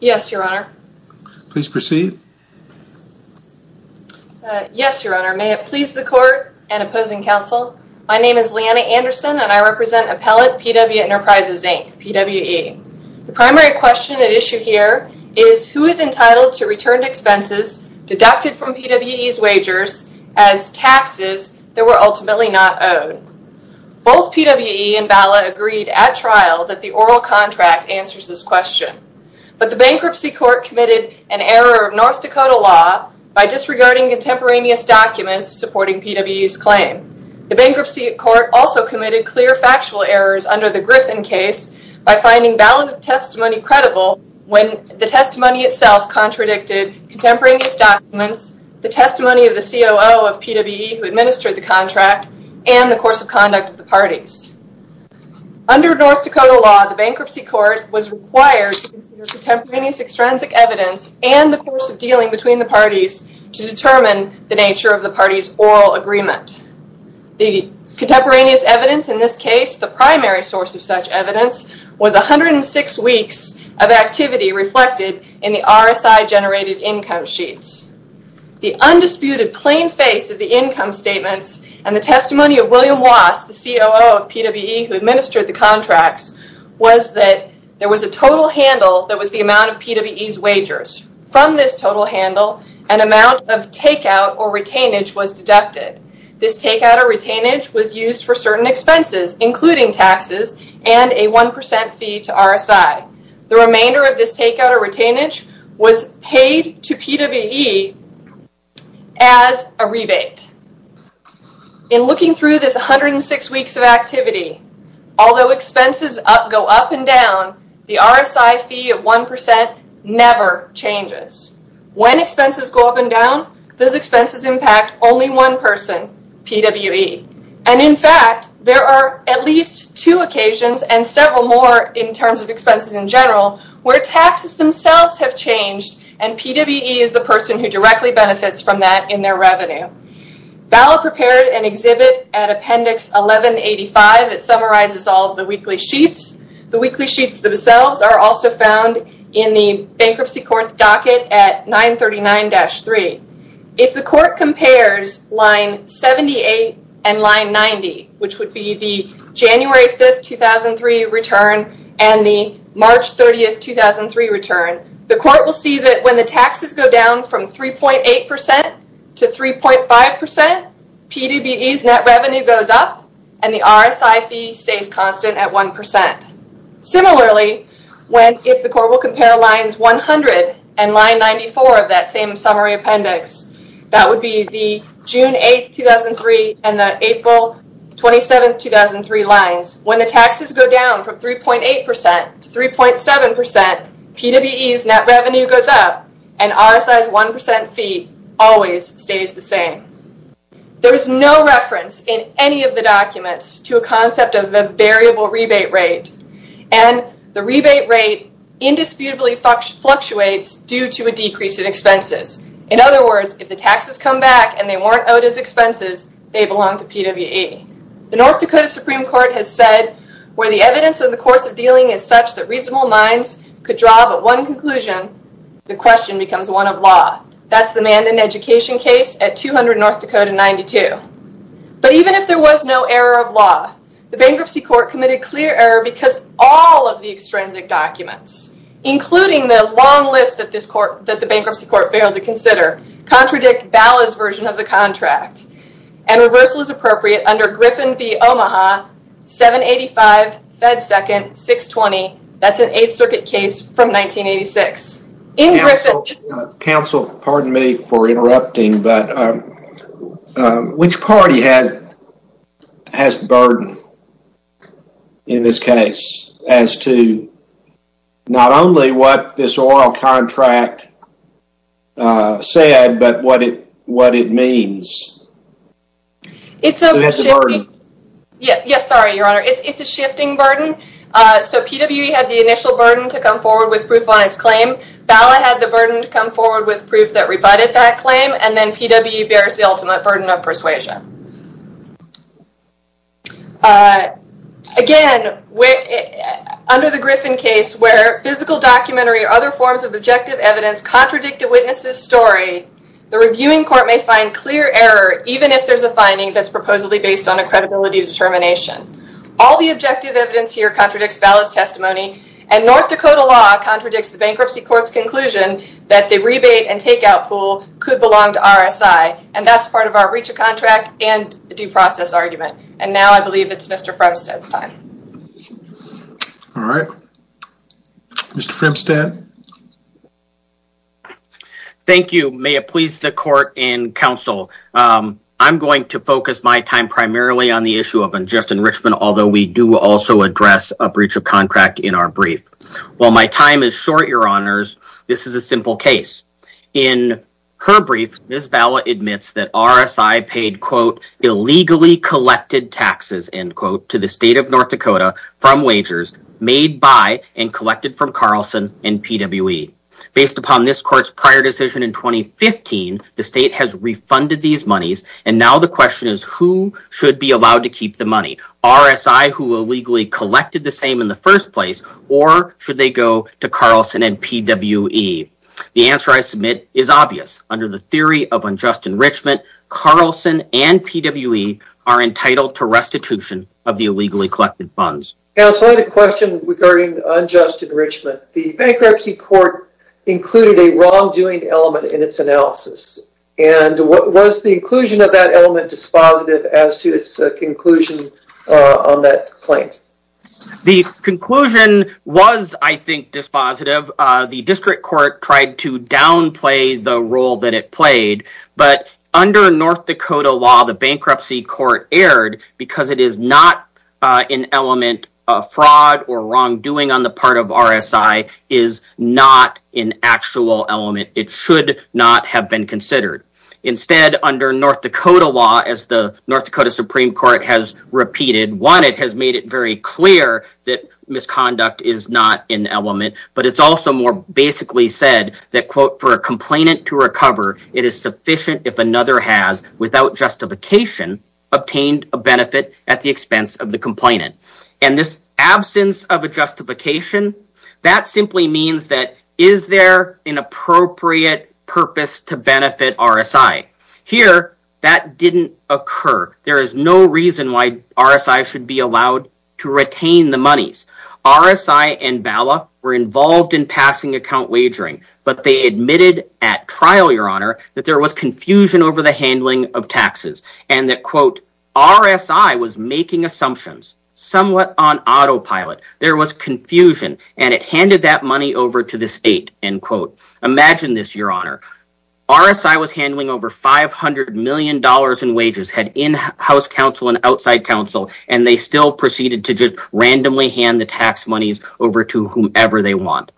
Yes, Your Honor. Please proceed. Yes, Your Honor. May it please the Court and opposing counsel, my name is Leanna Anderson and I represent Appellate PWE Enterprises, Inc., PWE. The primary question at issue here is who is entitled to returned expenses deducted from PWE's wagers as taxes that were ultimately not in the trial that the oral contract answers this question. But the Bankruptcy Court committed an error of North Dakota law by disregarding contemporaneous documents supporting PWE's claim. The Bankruptcy Court also committed clear factual errors under the Griffin case by finding valid testimony credible when the testimony itself contradicted contemporaneous documents, the testimony of the COO of PWE Under North Dakota law, the Bankruptcy Court was required to consider contemporaneous extrinsic evidence and the course of dealing between the parties to determine the nature of the parties' oral agreement. The contemporaneous evidence in this case, the primary source of such evidence, was 106 weeks of activity reflected in the RSI-generated income sheets. The undisputed plain face of the income statements and the testimony of William Wass, the COO of PWE who administered the contracts, was that there was a total handle that was the amount of PWE's wagers. From this total handle, an amount of takeout or retainage was deducted. This takeout or retainage was used for certain expenses, including taxes, and a 1% fee to RSI. The remainder of this takeout or retainage was paid to PWE as a rebate. In looking through this 106 weeks of activity, although expenses go up and down, the RSI fee of 1% never changes. When expenses go up and down, those expenses impact only one person, PWE. In fact, there are at least two occasions, and several more in terms of expenses in general, where taxes themselves have changed and PWE is the person who directly benefits from that in their revenue. VALA prepared an exhibit at Appendix 1185 that summarizes all of the weekly sheets. The weekly sheets themselves are also found in the Bankruptcy Court's docket at 939-3. If the court compares line 78 and line 90, which would be the January 5, 2003 return and the March 30, 2003 return, the court will see that when the taxes go down from 3.8% to 3.5%, PWE's net revenue goes up and the RSI fee stays constant at 1%. Similarly, if the court will compare lines 100 and line 94 of that same summary appendix, that would be the June 8, 2003 and the April 27, 2003 lines, when the taxes go down from 3.8% to 3.7%, PWE's net revenue goes up and RSI's 1% fee always stays the same. There is no reference in any of the documents to a concept of a variable rebate rate, and the rebate rate indisputably fluctuates due to a decrease in expenses. In other words, if the taxes come back and they weren't owed as expenses, they belong to PWE. The North Dakota Supreme Court has said, where the evidence of the course of dealing is such that reasonable minds could draw but one conclusion, the question becomes one of law. That's the Mandan education case at 200 North Dakota 92. But even if there was no error of law, the bankruptcy court committed clear error because all of the extrinsic documents, including the long list that the bankruptcy court failed to consider, contradict BALA's version of the contract, and reversal is appropriate under Griffin v. Omaha 785 Fed Second 620. That's an Eighth Circuit case from 1986. Counsel, pardon me for interrupting, but which party has the burden in this case as to not only what this oral contract said, but what it means? It's a shifting burden. Yes, sorry, Your Honor. It's a shifting burden. So, PWE had the initial burden to come forward with proof on his claim. BALA had the burden to come forward with proof that rebutted that claim, and then PWE bears the ultimate burden of persuasion. Again, under the Griffin case, where physical documentary or other forms of objective evidence contradict a witness's story, the reviewing court may find clear error, even if there's a finding that's proposedly based on a credibility determination. All the objective evidence here contradicts BALA's testimony, and North Dakota law contradicts the bankruptcy court's conclusion that the rebate and takeout pool could belong to RSI, and that's part of our breach of contract, and due process argument, and now I believe it's Mr. Fremstad's time. All right. Mr. Fremstad. Thank you. May it please the court and counsel, I'm going to focus my time primarily on the issue of unjust enrichment, although we do also address a breach of contract in our brief. While my time is short, Your Honors, this is a simple case. In her brief, Ms. BALA admits that RSI paid, quote, illegally collected taxes, end quote, to the state of North Dakota from wagers made by and collected from Carlson and PWE. Based upon this court's prior decision in 2015, the state has refunded these monies, and now the question is who should be allowed to keep the money, RSI who illegally collected the same in the first place, or should they go to Carlson and PWE? The answer I submit is obvious. Under the theory of unjust enrichment, Carlson and PWE are entitled to restitution of the illegally collected funds. Counsel, I had a question regarding unjust enrichment. The bankruptcy court included a wrongdoing element in its analysis, and what was the inclusion of that element dispositive as to its conclusion on that claim? The conclusion was, I think, dispositive. The district court tried to downplay the role that it played, but under North Dakota law, the bankruptcy court erred because it is not an element of fraud or wrongdoing on the part of RSI is not an actual element. It should not have been considered. Instead, under North Dakota law, as the North Dakota Supreme Court has repeated, one, it has made it very clear that misconduct is not an element, but it's also more basically said that, quote, for a complainant to recover, it is sufficient if another has, without justification, obtained a benefit at the expense of the complainant. And this absence of a justification, that simply means that is there an appropriate purpose to benefit RSI? Here, that didn't occur. There is no reason why RSI should be allowed to retain the monies. RSI and BALA were involved in passing account wagering, but they admitted at trial, Your Honor, that there was confusion over the handling of taxes, and that, quote, RSI was making assumptions somewhat on autopilot. There was confusion, and it handed that money over to the state, end quote. Imagine this, Your Honor. RSI was handling over $500 million in wages, had in-house counsel and outside counsel, and they still proceeded to just randomly hand the tax monies over to whomever they want.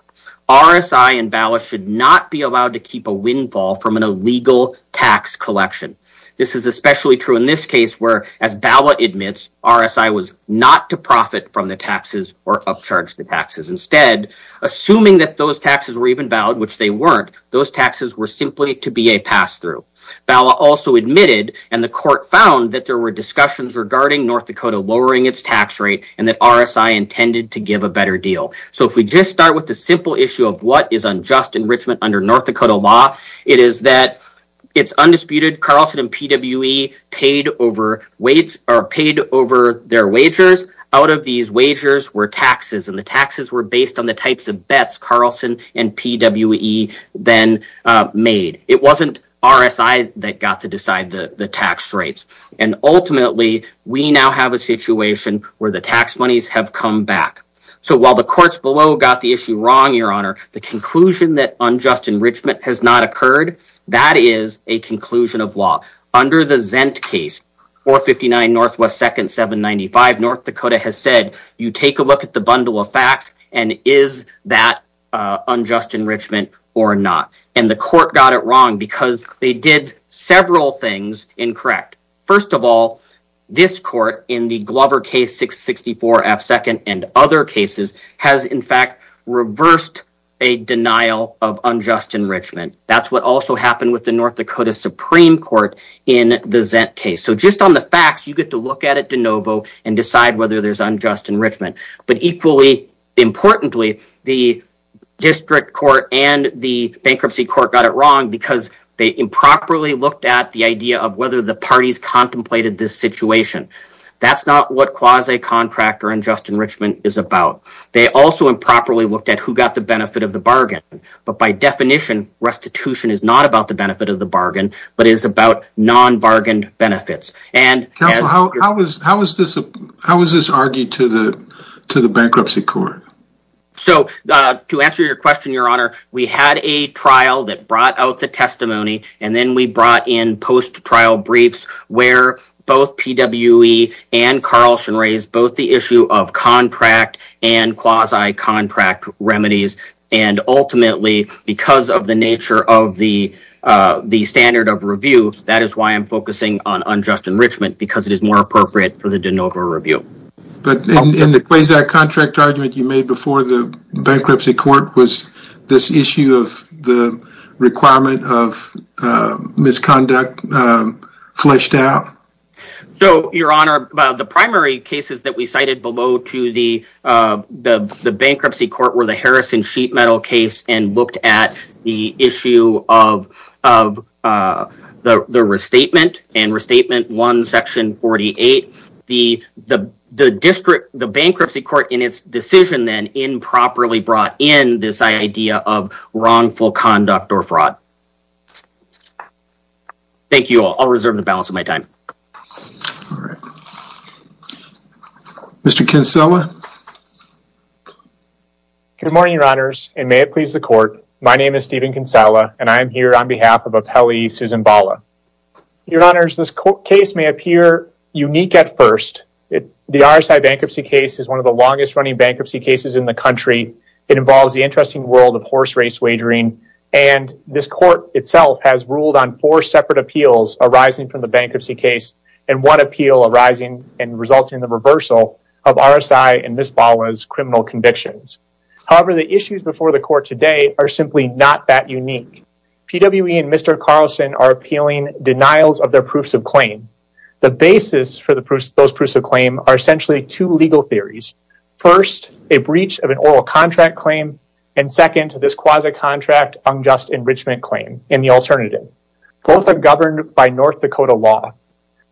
RSI and BALA should not be allowed to keep a windfall from an illegal tax collection. This is especially true in this case where, as BALA admits, RSI was not to profit from the taxes or upcharge the taxes. Instead, assuming that those taxes were even valid, which they weren't, those taxes were simply to be a pass-through. BALA also admitted, and the court found, that there were discussions regarding North Dakota lowering its tax rate and that RSI intended to give a better deal. So if we just start with the simple issue of what is unjust enrichment under North Dakota law, it is that it's undisputed Carlson and PWE paid over their wagers. Out of these wagers were taxes, and the taxes were based on the types of bets Carlson and PWE then made. It wasn't RSI that got to decide the tax rates. And ultimately, we now have a situation where the tax monies have come back. So while the courts below got the issue wrong, Your Honor, the conclusion that unjust enrichment has not occurred, that is a conclusion of law. Under the Zent case, 459 NW 2nd 795, North Dakota has said, you take a look at the bundle of facts and is that unjust enrichment or not? And the court got it wrong because they did several things incorrect. First of all, this court in the Glover case 664 F 2nd and other cases has in fact reversed a denial of unjust enrichment. That's what also happened with the North Dakota Supreme Court in the Zent case. So just on the facts, you get to look at it de novo and decide whether there's unjust enrichment. But equally importantly, the district court and the bankruptcy court got it wrong because they improperly looked at the idea of whether the parties contemplated this situation. That's not what quasi-contractor unjust enrichment is about. They also improperly looked at who got the benefit of the bargain. But by definition, restitution is not about the benefit of the bargain, but it is about non-bargained benefits. Counsel, how is this argued to the bankruptcy court? To answer your question, Your Honor, we had a trial that brought out the testimony and then we brought in post-trial briefs where both PWE and Carlson raised both the issue of contract and quasi-contract remedies. And ultimately, because of the nature of the standard of review, that is why I'm focusing on unjust enrichment because it is more appropriate for the de novo review. But in the quasi-contract argument you made before the bankruptcy court, was this issue of the requirement of misconduct fleshed out? So, Your Honor, the primary cases that we cited below to the bankruptcy court were the Harrison Sheet Metal case and looked at the issue of the restatement and Restatement 1, Section 48. The bankruptcy court in its decision then improperly brought in this idea of wrongful conduct or fraud. Thank you all. I'll reserve the balance of my time. All right. Mr. Kinsella? Good morning, Your Honors, and may it please the court. My name is Stephen Kinsella and I am here on behalf of Appellee Susan Bala. Your Honors, this case may appear unique at first. The RSI bankruptcy case is one of the longest running bankruptcy cases in the country. It involves the interesting world of horse race wagering. This court itself has ruled on four separate appeals arising from the bankruptcy case and one appeal resulting in the reversal of RSI and Ms. Bala's criminal convictions. However, the issues before the court today are simply not that unique. PWE and Mr. Carlson are appealing denials of their proofs of claim. The basis for those proofs of claim are essentially two legal theories. First, a breach of an oral contract claim, and second, this quasi-contract unjust enrichment claim and the alternative. Both are governed by North Dakota law.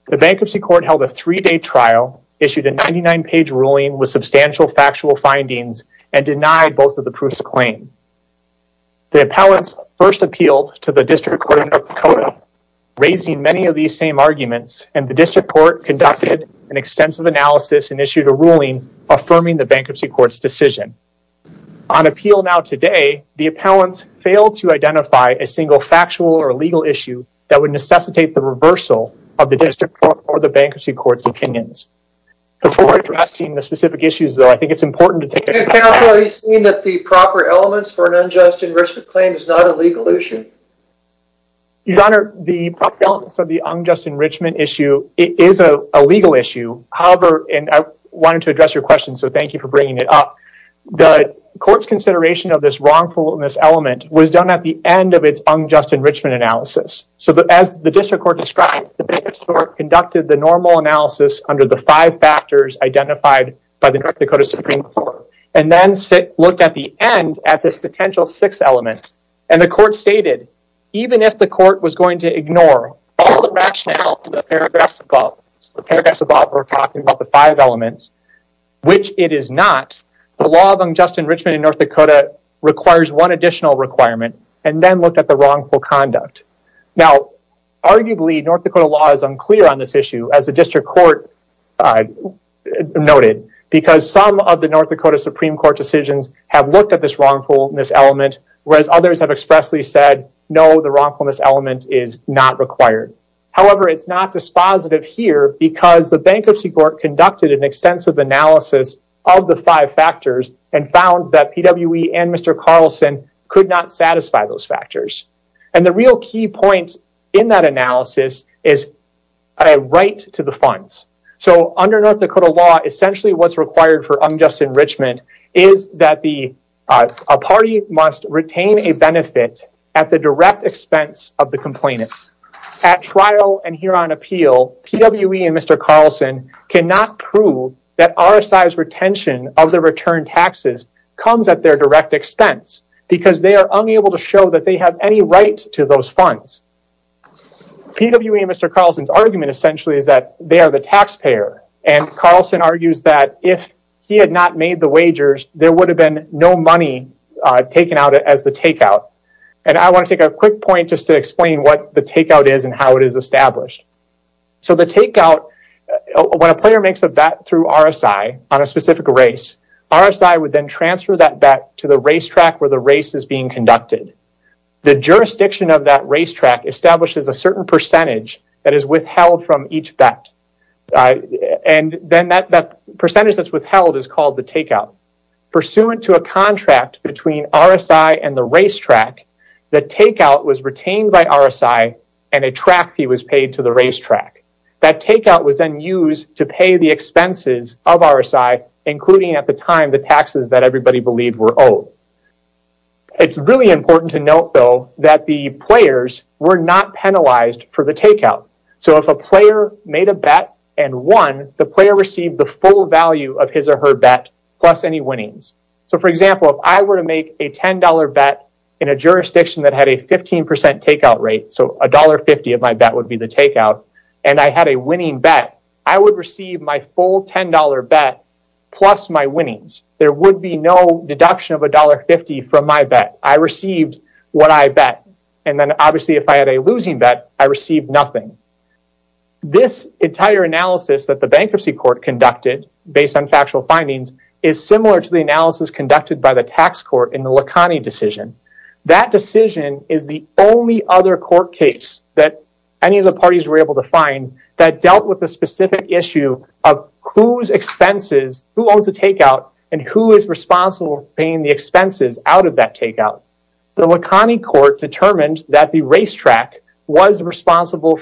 The bankruptcy court held a three-day trial, issued a 99-page ruling with substantial factual findings, and denied both of the proofs of claim. The appellants first appealed to the District Court of North Dakota, raising many of these same arguments, and the District Court conducted an extensive analysis and issued a ruling affirming the bankruptcy court's decision. On appeal now today, the appellants failed to identify a single factual or legal issue that would necessitate the reversal of the District Court or the bankruptcy court's opinions. Before addressing the specific issues, though, I think it's important to take a step back. Have you seen that the proper elements for an unjust enrichment claim is not a legal issue? Your Honor, the proper elements of the unjust enrichment issue is a legal issue. However, and I wanted to address your question, so thank you for bringing it up. The court's consideration of this wrongfulness element was done at the end of its unjust enrichment analysis. So as the District Court described, the bankruptcy court conducted the normal analysis under the five factors identified by the North Dakota Supreme Court, and then looked at the end at this potential sixth element. And the court stated, even if the court was going to ignore all the rationale in the paragraphs above, the paragraphs above were talking about the five elements, which it is not, the law of unjust enrichment in North Dakota requires one additional requirement, and then looked at the wrongful conduct. Now, arguably, North Dakota law is unclear on this issue, as the District Court noted, because some of the North Dakota Supreme Court decisions have looked at this wrongfulness element, whereas others have expressly said, no, the wrongfulness element is not required. However, it's not dispositive here, because the bankruptcy court conducted an extensive analysis of the five factors and found that PWE and Mr. Carlson could not satisfy those factors. And the real key point in that analysis is a right to the funds. So under North Dakota law, essentially what's required for unjust enrichment is that a party must retain a benefit at the direct expense of the complainant. At trial and here on appeal, PWE and Mr. Carlson cannot prove that RSI's retention of the return taxes comes at their direct expense, because they are unable to show that they have any right to those funds. PWE and Mr. Carlson's argument, essentially, is that they are the taxpayer, and Carlson argues that if he had not made the wagers, there would have been no money taken out as the takeout. And I want to take a quick point just to explain what the takeout is and how it is established. So the takeout, when a player makes a bet through RSI on a specific race, RSI would then transfer that bet to the racetrack where the race is being conducted. The jurisdiction of that racetrack establishes a certain percentage that is withheld from each bet. And then that percentage that's withheld is called the takeout. Pursuant to a contract between RSI and the racetrack, the takeout was retained by RSI, and a track fee was paid to the racetrack. That takeout was then used to pay the expenses of RSI, including, at the time, the taxes that everybody believed were owed. It's really important to note, though, that the players were not penalized for the takeout. So if a player made a bet and won, the player received the full value of his or her bet plus any winnings. So, for example, if I were to make a $10 bet in a jurisdiction that had a 15% takeout rate, so $1.50 of my bet would be the takeout, and I had a winning bet, I would receive my full $10 bet plus my winnings. There would be no deduction of $1.50 from my bet. I received what I bet. And then, obviously, if I had a losing bet, I received nothing. This entire analysis that the Bankruptcy Court conducted, based on factual findings, is similar to the analysis conducted by the Tax Court in the Lacani decision. That decision is the only other court case that any of the parties were able to find that dealt with the specific issue of whose expenses, who owns the takeout, and who is responsible for paying the expenses out of that takeout. The Lacani Court determined that the racetrack owned the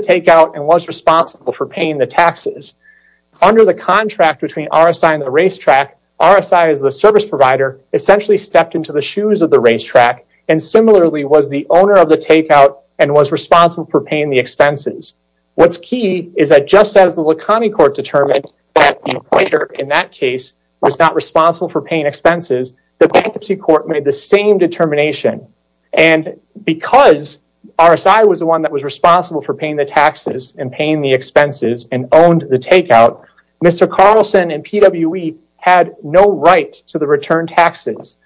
takeout and was responsible for paying the taxes. Under the contract between RSI and the racetrack, RSI, as the service provider, essentially stepped into the shoes of the racetrack, and similarly was the owner of the takeout and was responsible for paying the expenses. What's key is that just as the Lacani Court determined that the player in that case was not responsible for paying expenses, the Bankruptcy Court made the same determination. And because RSI was the one that was responsible for paying the taxes and paying the expenses and owned the takeout, Mr. Carlson and PWE had no right to the return taxes.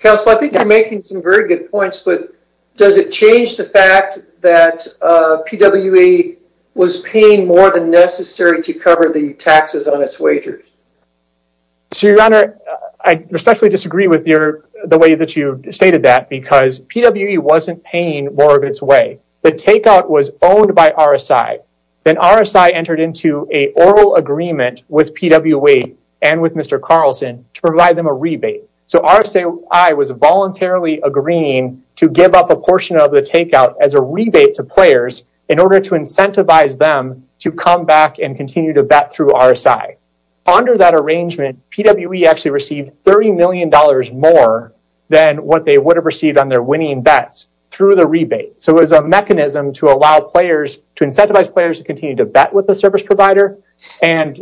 Counsel, I think you're making some very good points, but does it change the fact that PWE was paying more than necessary to cover the taxes on its wagers? Your Honor, I especially disagree with the way that you stated that because PWE wasn't paying more of its way. The takeout was owned by RSI. Then RSI entered into an oral agreement with PWE and with Mr. Carlson to provide them a rebate. So RSI was voluntarily agreeing to give up a portion of the takeout as a rebate to players in order to incentivize them to come back and continue to bet through RSI. Under that arrangement, PWE actually received $30 million more than what they would have received on their winning bets through the rebate. So it was a mechanism to incentivize players to continue to bet with the service provider, and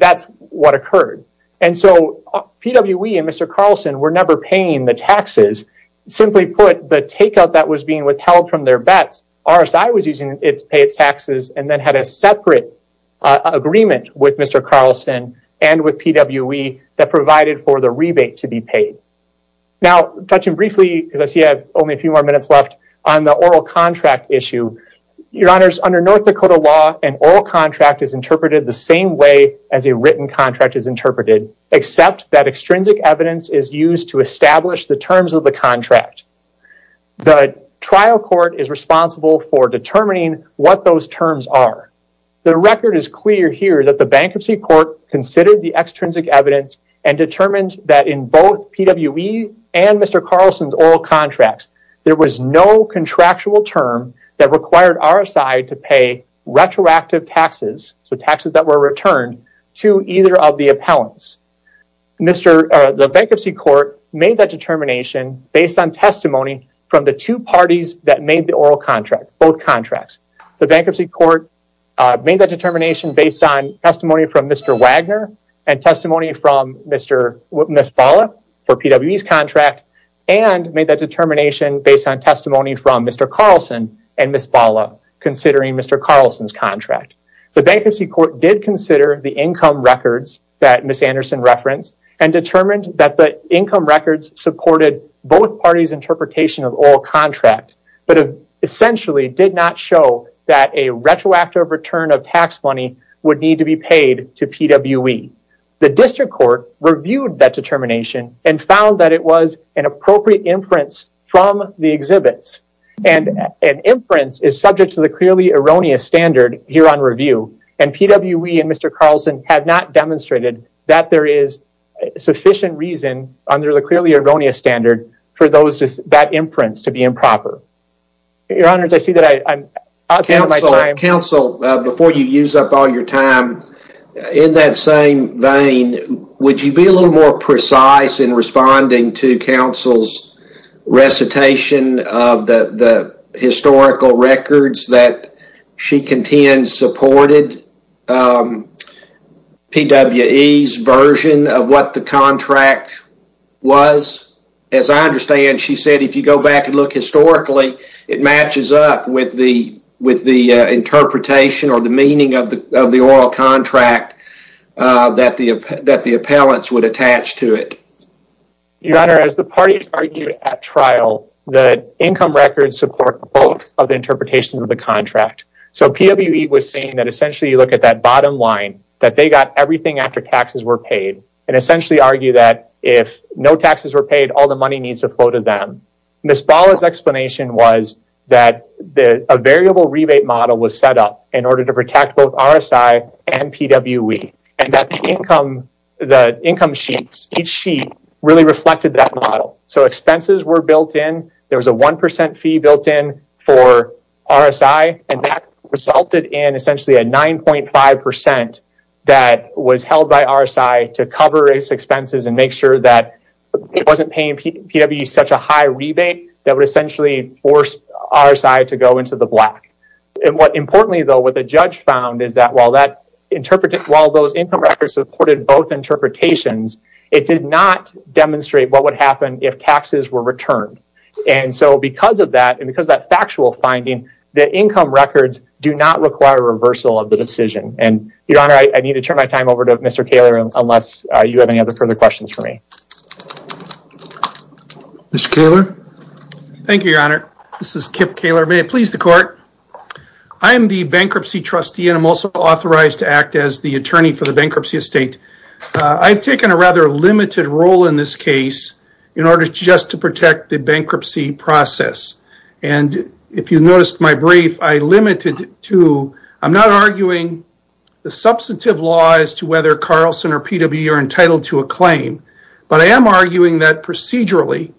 that's what occurred. And so PWE and Mr. Carlson were never paying the taxes. Simply put, the takeout that was being withheld from their bets, RSI was using it to pay its taxes and then had a separate agreement with Mr. Carlson and with PWE that provided for the rebate to be paid. Now, touching briefly, because I see I have only a few more minutes left, on the oral contract issue. Your Honors, under North Dakota law, an oral contract is interpreted the same way as a written contract is interpreted, except that extrinsic evidence is used to establish the terms of the contract. The trial court is responsible for determining what those terms are. The record is clear here that the bankruptcy court considered the extrinsic evidence and determined that in both PWE and Mr. Carlson's oral contracts, there was no contractual term that required RSI to pay retroactive taxes, so taxes that were returned, to either of the appellants. The bankruptcy court made that determination based on testimony from the two parties that made the oral contract, both contracts. The bankruptcy court made that determination based on testimony from Mr. Wagner and testimony from Ms. Bala for PWE's contract, and made that determination based on testimony from Mr. Carlson and Ms. Bala, considering Mr. Carlson's contract. The bankruptcy court did consider the income records that Ms. Anderson referenced and determined that the income records supported both parties' interpretation of oral contract, but essentially did not show that a retroactive return of tax money would need to be paid to PWE. The district court reviewed that determination and found that it was an appropriate inference from the exhibits. An inference is subject to the clearly erroneous standard here on review, and PWE and Mr. Carlson have not demonstrated that there is sufficient reason under the clearly erroneous standard for that inference to be improper. Counsel, before you use up all your time, in that same vein, would you be a little more precise in responding to the historical records that she contends supported PWE's version of what the contract was? As I understand, she said if you go back and look historically, it matches up with the interpretation or the meaning of the oral contract that the appellants would attach to it. Your Honor, as the parties argued at trial, the income records support both of the interpretations of the contract. So PWE was saying that essentially you look at that bottom line, that they got everything after taxes were paid, and essentially argued that if no taxes were paid, all the money needs to flow to them. Ms. Balla's explanation was that a variable rebate model was set up in order to protect both RSI and PWE, and that the income sheets, each sheet, really reflected that model. So expenses were built in, there was a 1% fee built in for RSI, and that resulted in essentially a 9.5% that was held by RSI to cover its expenses and make sure that it wasn't paying PWE such a high rebate that would essentially force RSI to go into the black. Importantly though, what the judge found is that while those income records supported both interpretations, it did not demonstrate what would happen if taxes were returned. And so because of that, and because of that factual finding, the income records do not require reversal of the decision. Your Honor, I need to turn my time over to Mr. Kaler, unless you have any other further questions for me. Mr. Kaler? Thank you, Your Honor. This is Kip Kaler. May it please the Court. I am the bankruptcy trustee, and I'm also authorized to act as the attorney for the bankruptcy estate. I've taken a rather limited role in this case in order just to protect the bankruptcy process. And if you noticed my brief, I limited it to, I'm not arguing the substantive law as to whether Carlson or PWE are entitled to a claim, but I am arguing that procedurally,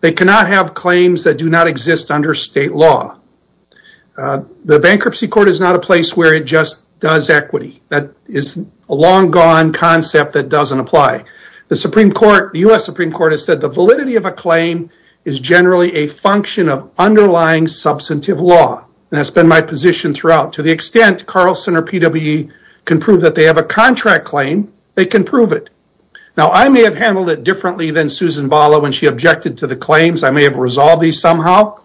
they cannot have claims that do not exist under state law. The bankruptcy court is not a place where it just does equity. That is a long-gone concept that doesn't apply. The Supreme Court, the U.S. Supreme Court, has said the validity of a claim is generally a function of underlying substantive law, and that's been my position throughout. To the extent Carlson or PWE can prove that they have a contract claim, they can prove it. Now, I may have handled it differently than Susan Bala when she objected to the claims. I may have resolved these somehow.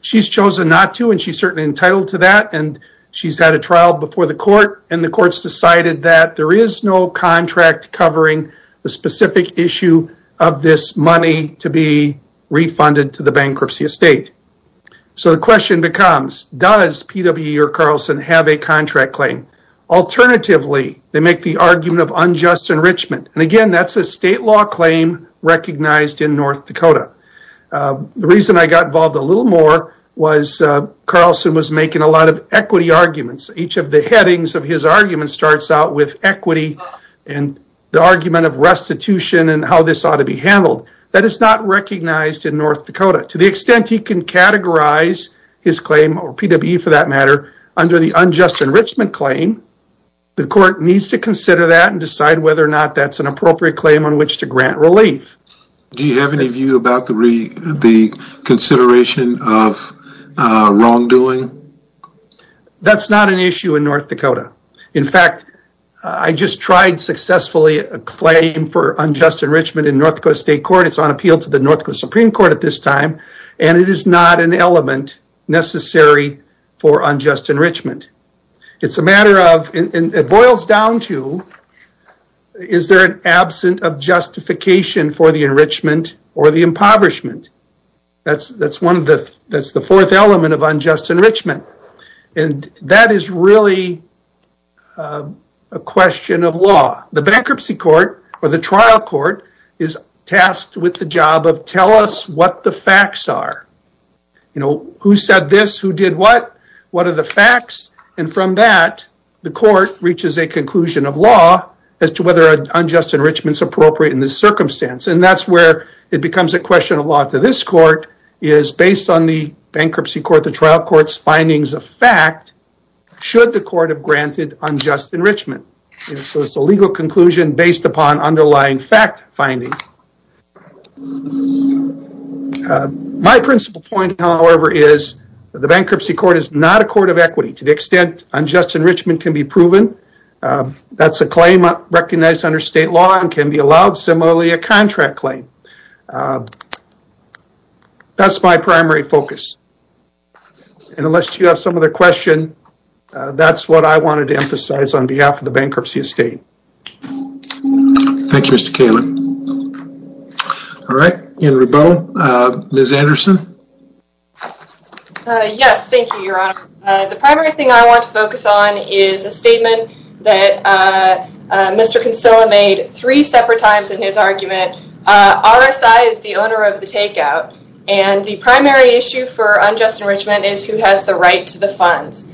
She's chosen not to, and she's certainly entitled to that, and she's had a trial before the court, and the court's decided that there is no contract covering the specific issue of this money to be refunded to the bankruptcy estate. So the question becomes, does PWE or Carlson have a contract claim? Alternatively, they make the argument of unjust enrichment, and again, that's a state law claim recognized in North Dakota. The reason I got involved a little more was Carlson was making a lot of equity arguments. Each of the headings of his arguments starts out with equity and the argument of restitution and how this ought to be handled. That is not recognized in North Dakota. To the extent he can categorize his claim, or PWE for that matter, under the unjust enrichment claim, the court needs to consider that and decide whether or not that's an appropriate claim on which to grant relief. Do you have any view about the consideration of wrongdoing? That's not an issue in North Dakota. In fact, I just tried successfully a claim for unjust enrichment in North Dakota State Court. It's on appeal to the North Dakota Supreme Court at this time, and it is not an element necessary for unjust enrichment. It boils down to, is there an absent of justification for the enrichment or the impoverishment? That's the fourth element of unjust enrichment. That is really a question of law. The bankruptcy court or the trial court is tasked with the job of tell us what the facts are. Who said this? Who did what? What are the facts? From that, the court reaches a conclusion of law as to whether unjust enrichment is appropriate in this circumstance. That's where it becomes a question of law to this court, is based on the bankruptcy court, the trial court's findings of fact, should the court have granted unjust enrichment. It's a legal conclusion based upon underlying fact finding. My principle point, however, is the bankruptcy court is not a court of equity to the extent unjust enrichment can be proven. That's a claim recognized under state law and can be allowed similarly a contract claim. That's my primary focus. Unless you have some other question, that's what I wanted to emphasize on behalf of the bankruptcy estate. Thank you, Mr. Kalin. All right. Ms. Anderson? Yes, thank you, Your Honor. The primary thing I want to focus on is a statement that Mr. Consilla made three separate times in his argument. RSI is the owner of the takeout, funds.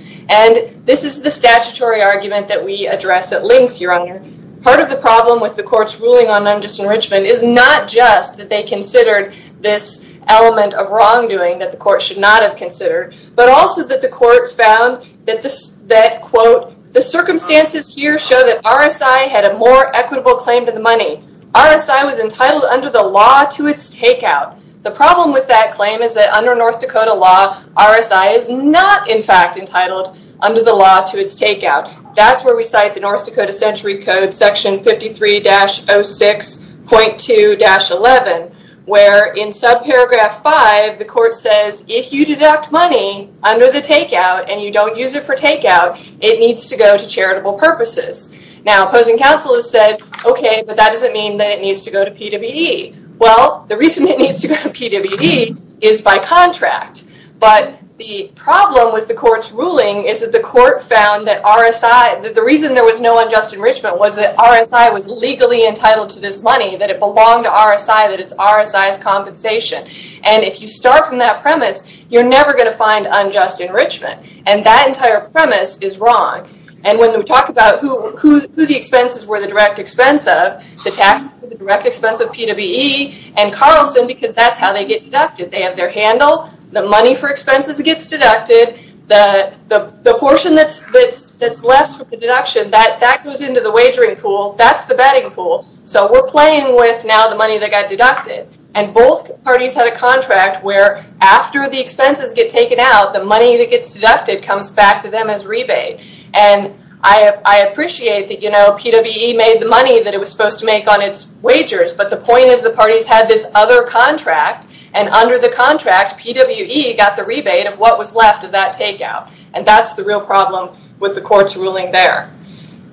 This is the statutory argument that we address at length, Your Honor. Part of the problem with the court's ruling on unjust enrichment is not just that they considered this element of wrongdoing that the court should not have considered, but also that the court found that, quote, the circumstances here show that RSI had a more equitable claim to the money. RSI was entitled under the law to its takeout. The problem with that claim is that under North Dakota law, RSI is not in fact entitled under the law to its takeout. That's where we cite the North Dakota Century Code, section 53-06.2-11, where in subparagraph five, the court says if you deduct money under the takeout and you don't use it for takeout, it needs to go to charitable purposes. Now, opposing counsel has said, okay, but that doesn't mean that it needs to go to PWD. Well, the reason it needs to go to PWD is by contract. But the problem with the court's ruling is that the court found that RSI, the reason there was no unjust enrichment was that RSI was legally entitled to this money, that it belonged to RSI, that it's RSI's compensation. And if you start from that premise, you're never going to find unjust enrichment. And that entire premise is wrong. And when we talk about who the expenses were, the direct expense of the taxes, the direct expense of PWD and Carlson, because that's how they get deducted. They have their handle. The money for expenses gets deducted. The portion that's left for the deduction, that goes into the wagering pool. That's the betting pool. So we're playing with now the money that got deducted. And both parties had a contract where after the expenses get taken out, the money that gets deducted comes back to them as rebate. And I appreciate that, you know, PWE made the money that it was supposed to make on its wagers. But the point is the parties had this other contract. And under the contract, PWE got the rebate of what was left of that takeout. And that's the real problem with the court's ruling there.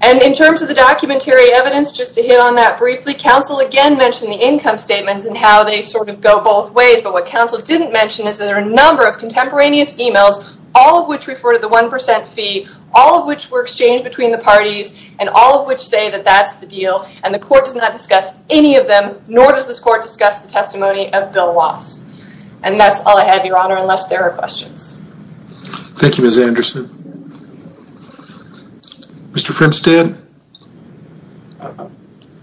And in terms of the documentary evidence, just to hit on that briefly, counsel again mentioned the income statements and how they sort of go both ways. But what counsel didn't mention is that there are a number of contemporaneous emails, all of which refer to the 1% fee, all of which were exchanged between the parties, and all of which say that that's the deal. And the court does not discuss any of them, nor does this court discuss the testimony of Bill Woss. And that's all I have, Your Honor, unless there are questions. Thank you, Ms. Anderson. Mr. Frenstad?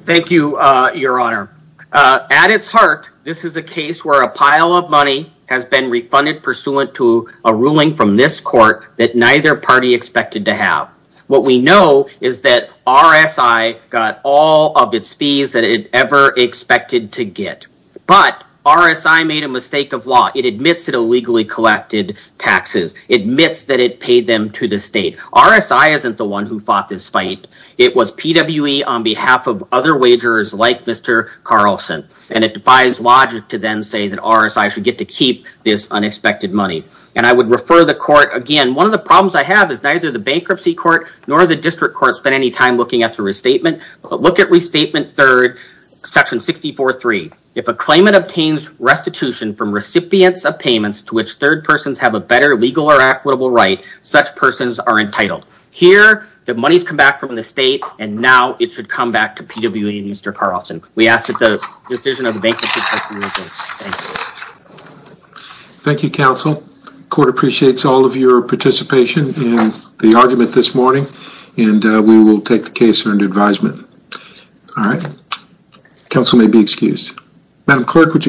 Thank you, Your Honor. At its heart, this is a case where a pile of money has been refunded pursuant to a ruling from this court that neither party expected to have. What we know is that RSI got all of its fees that it ever expected to get. But RSI made a mistake of law. It admits it illegally collected taxes. It admits that it paid them to the state. RSI isn't the one who fought this fight. It was PWE on behalf of other wagers like Mr. Carlson. And it defies logic to then say that RSI should get to keep this unexpected money. And I would refer the court again. One of the problems I have is neither the bankruptcy court nor the district court spent any time looking at the restatement. Look at Restatement 3rd, Section 64.3. If a claimant obtains restitution from recipients of payments to which third persons have a better legal or equitable right, such persons are entitled. Here, the money's come back from the state, and now it should come back to PWE and Mr. Carlson. We ask that the decision of the bankruptcy court be made. Thank you. Thank you, counsel. Court appreciates all of your participation in the argument this morning. And we will take the case under advisement. All right. Counsel may be excused.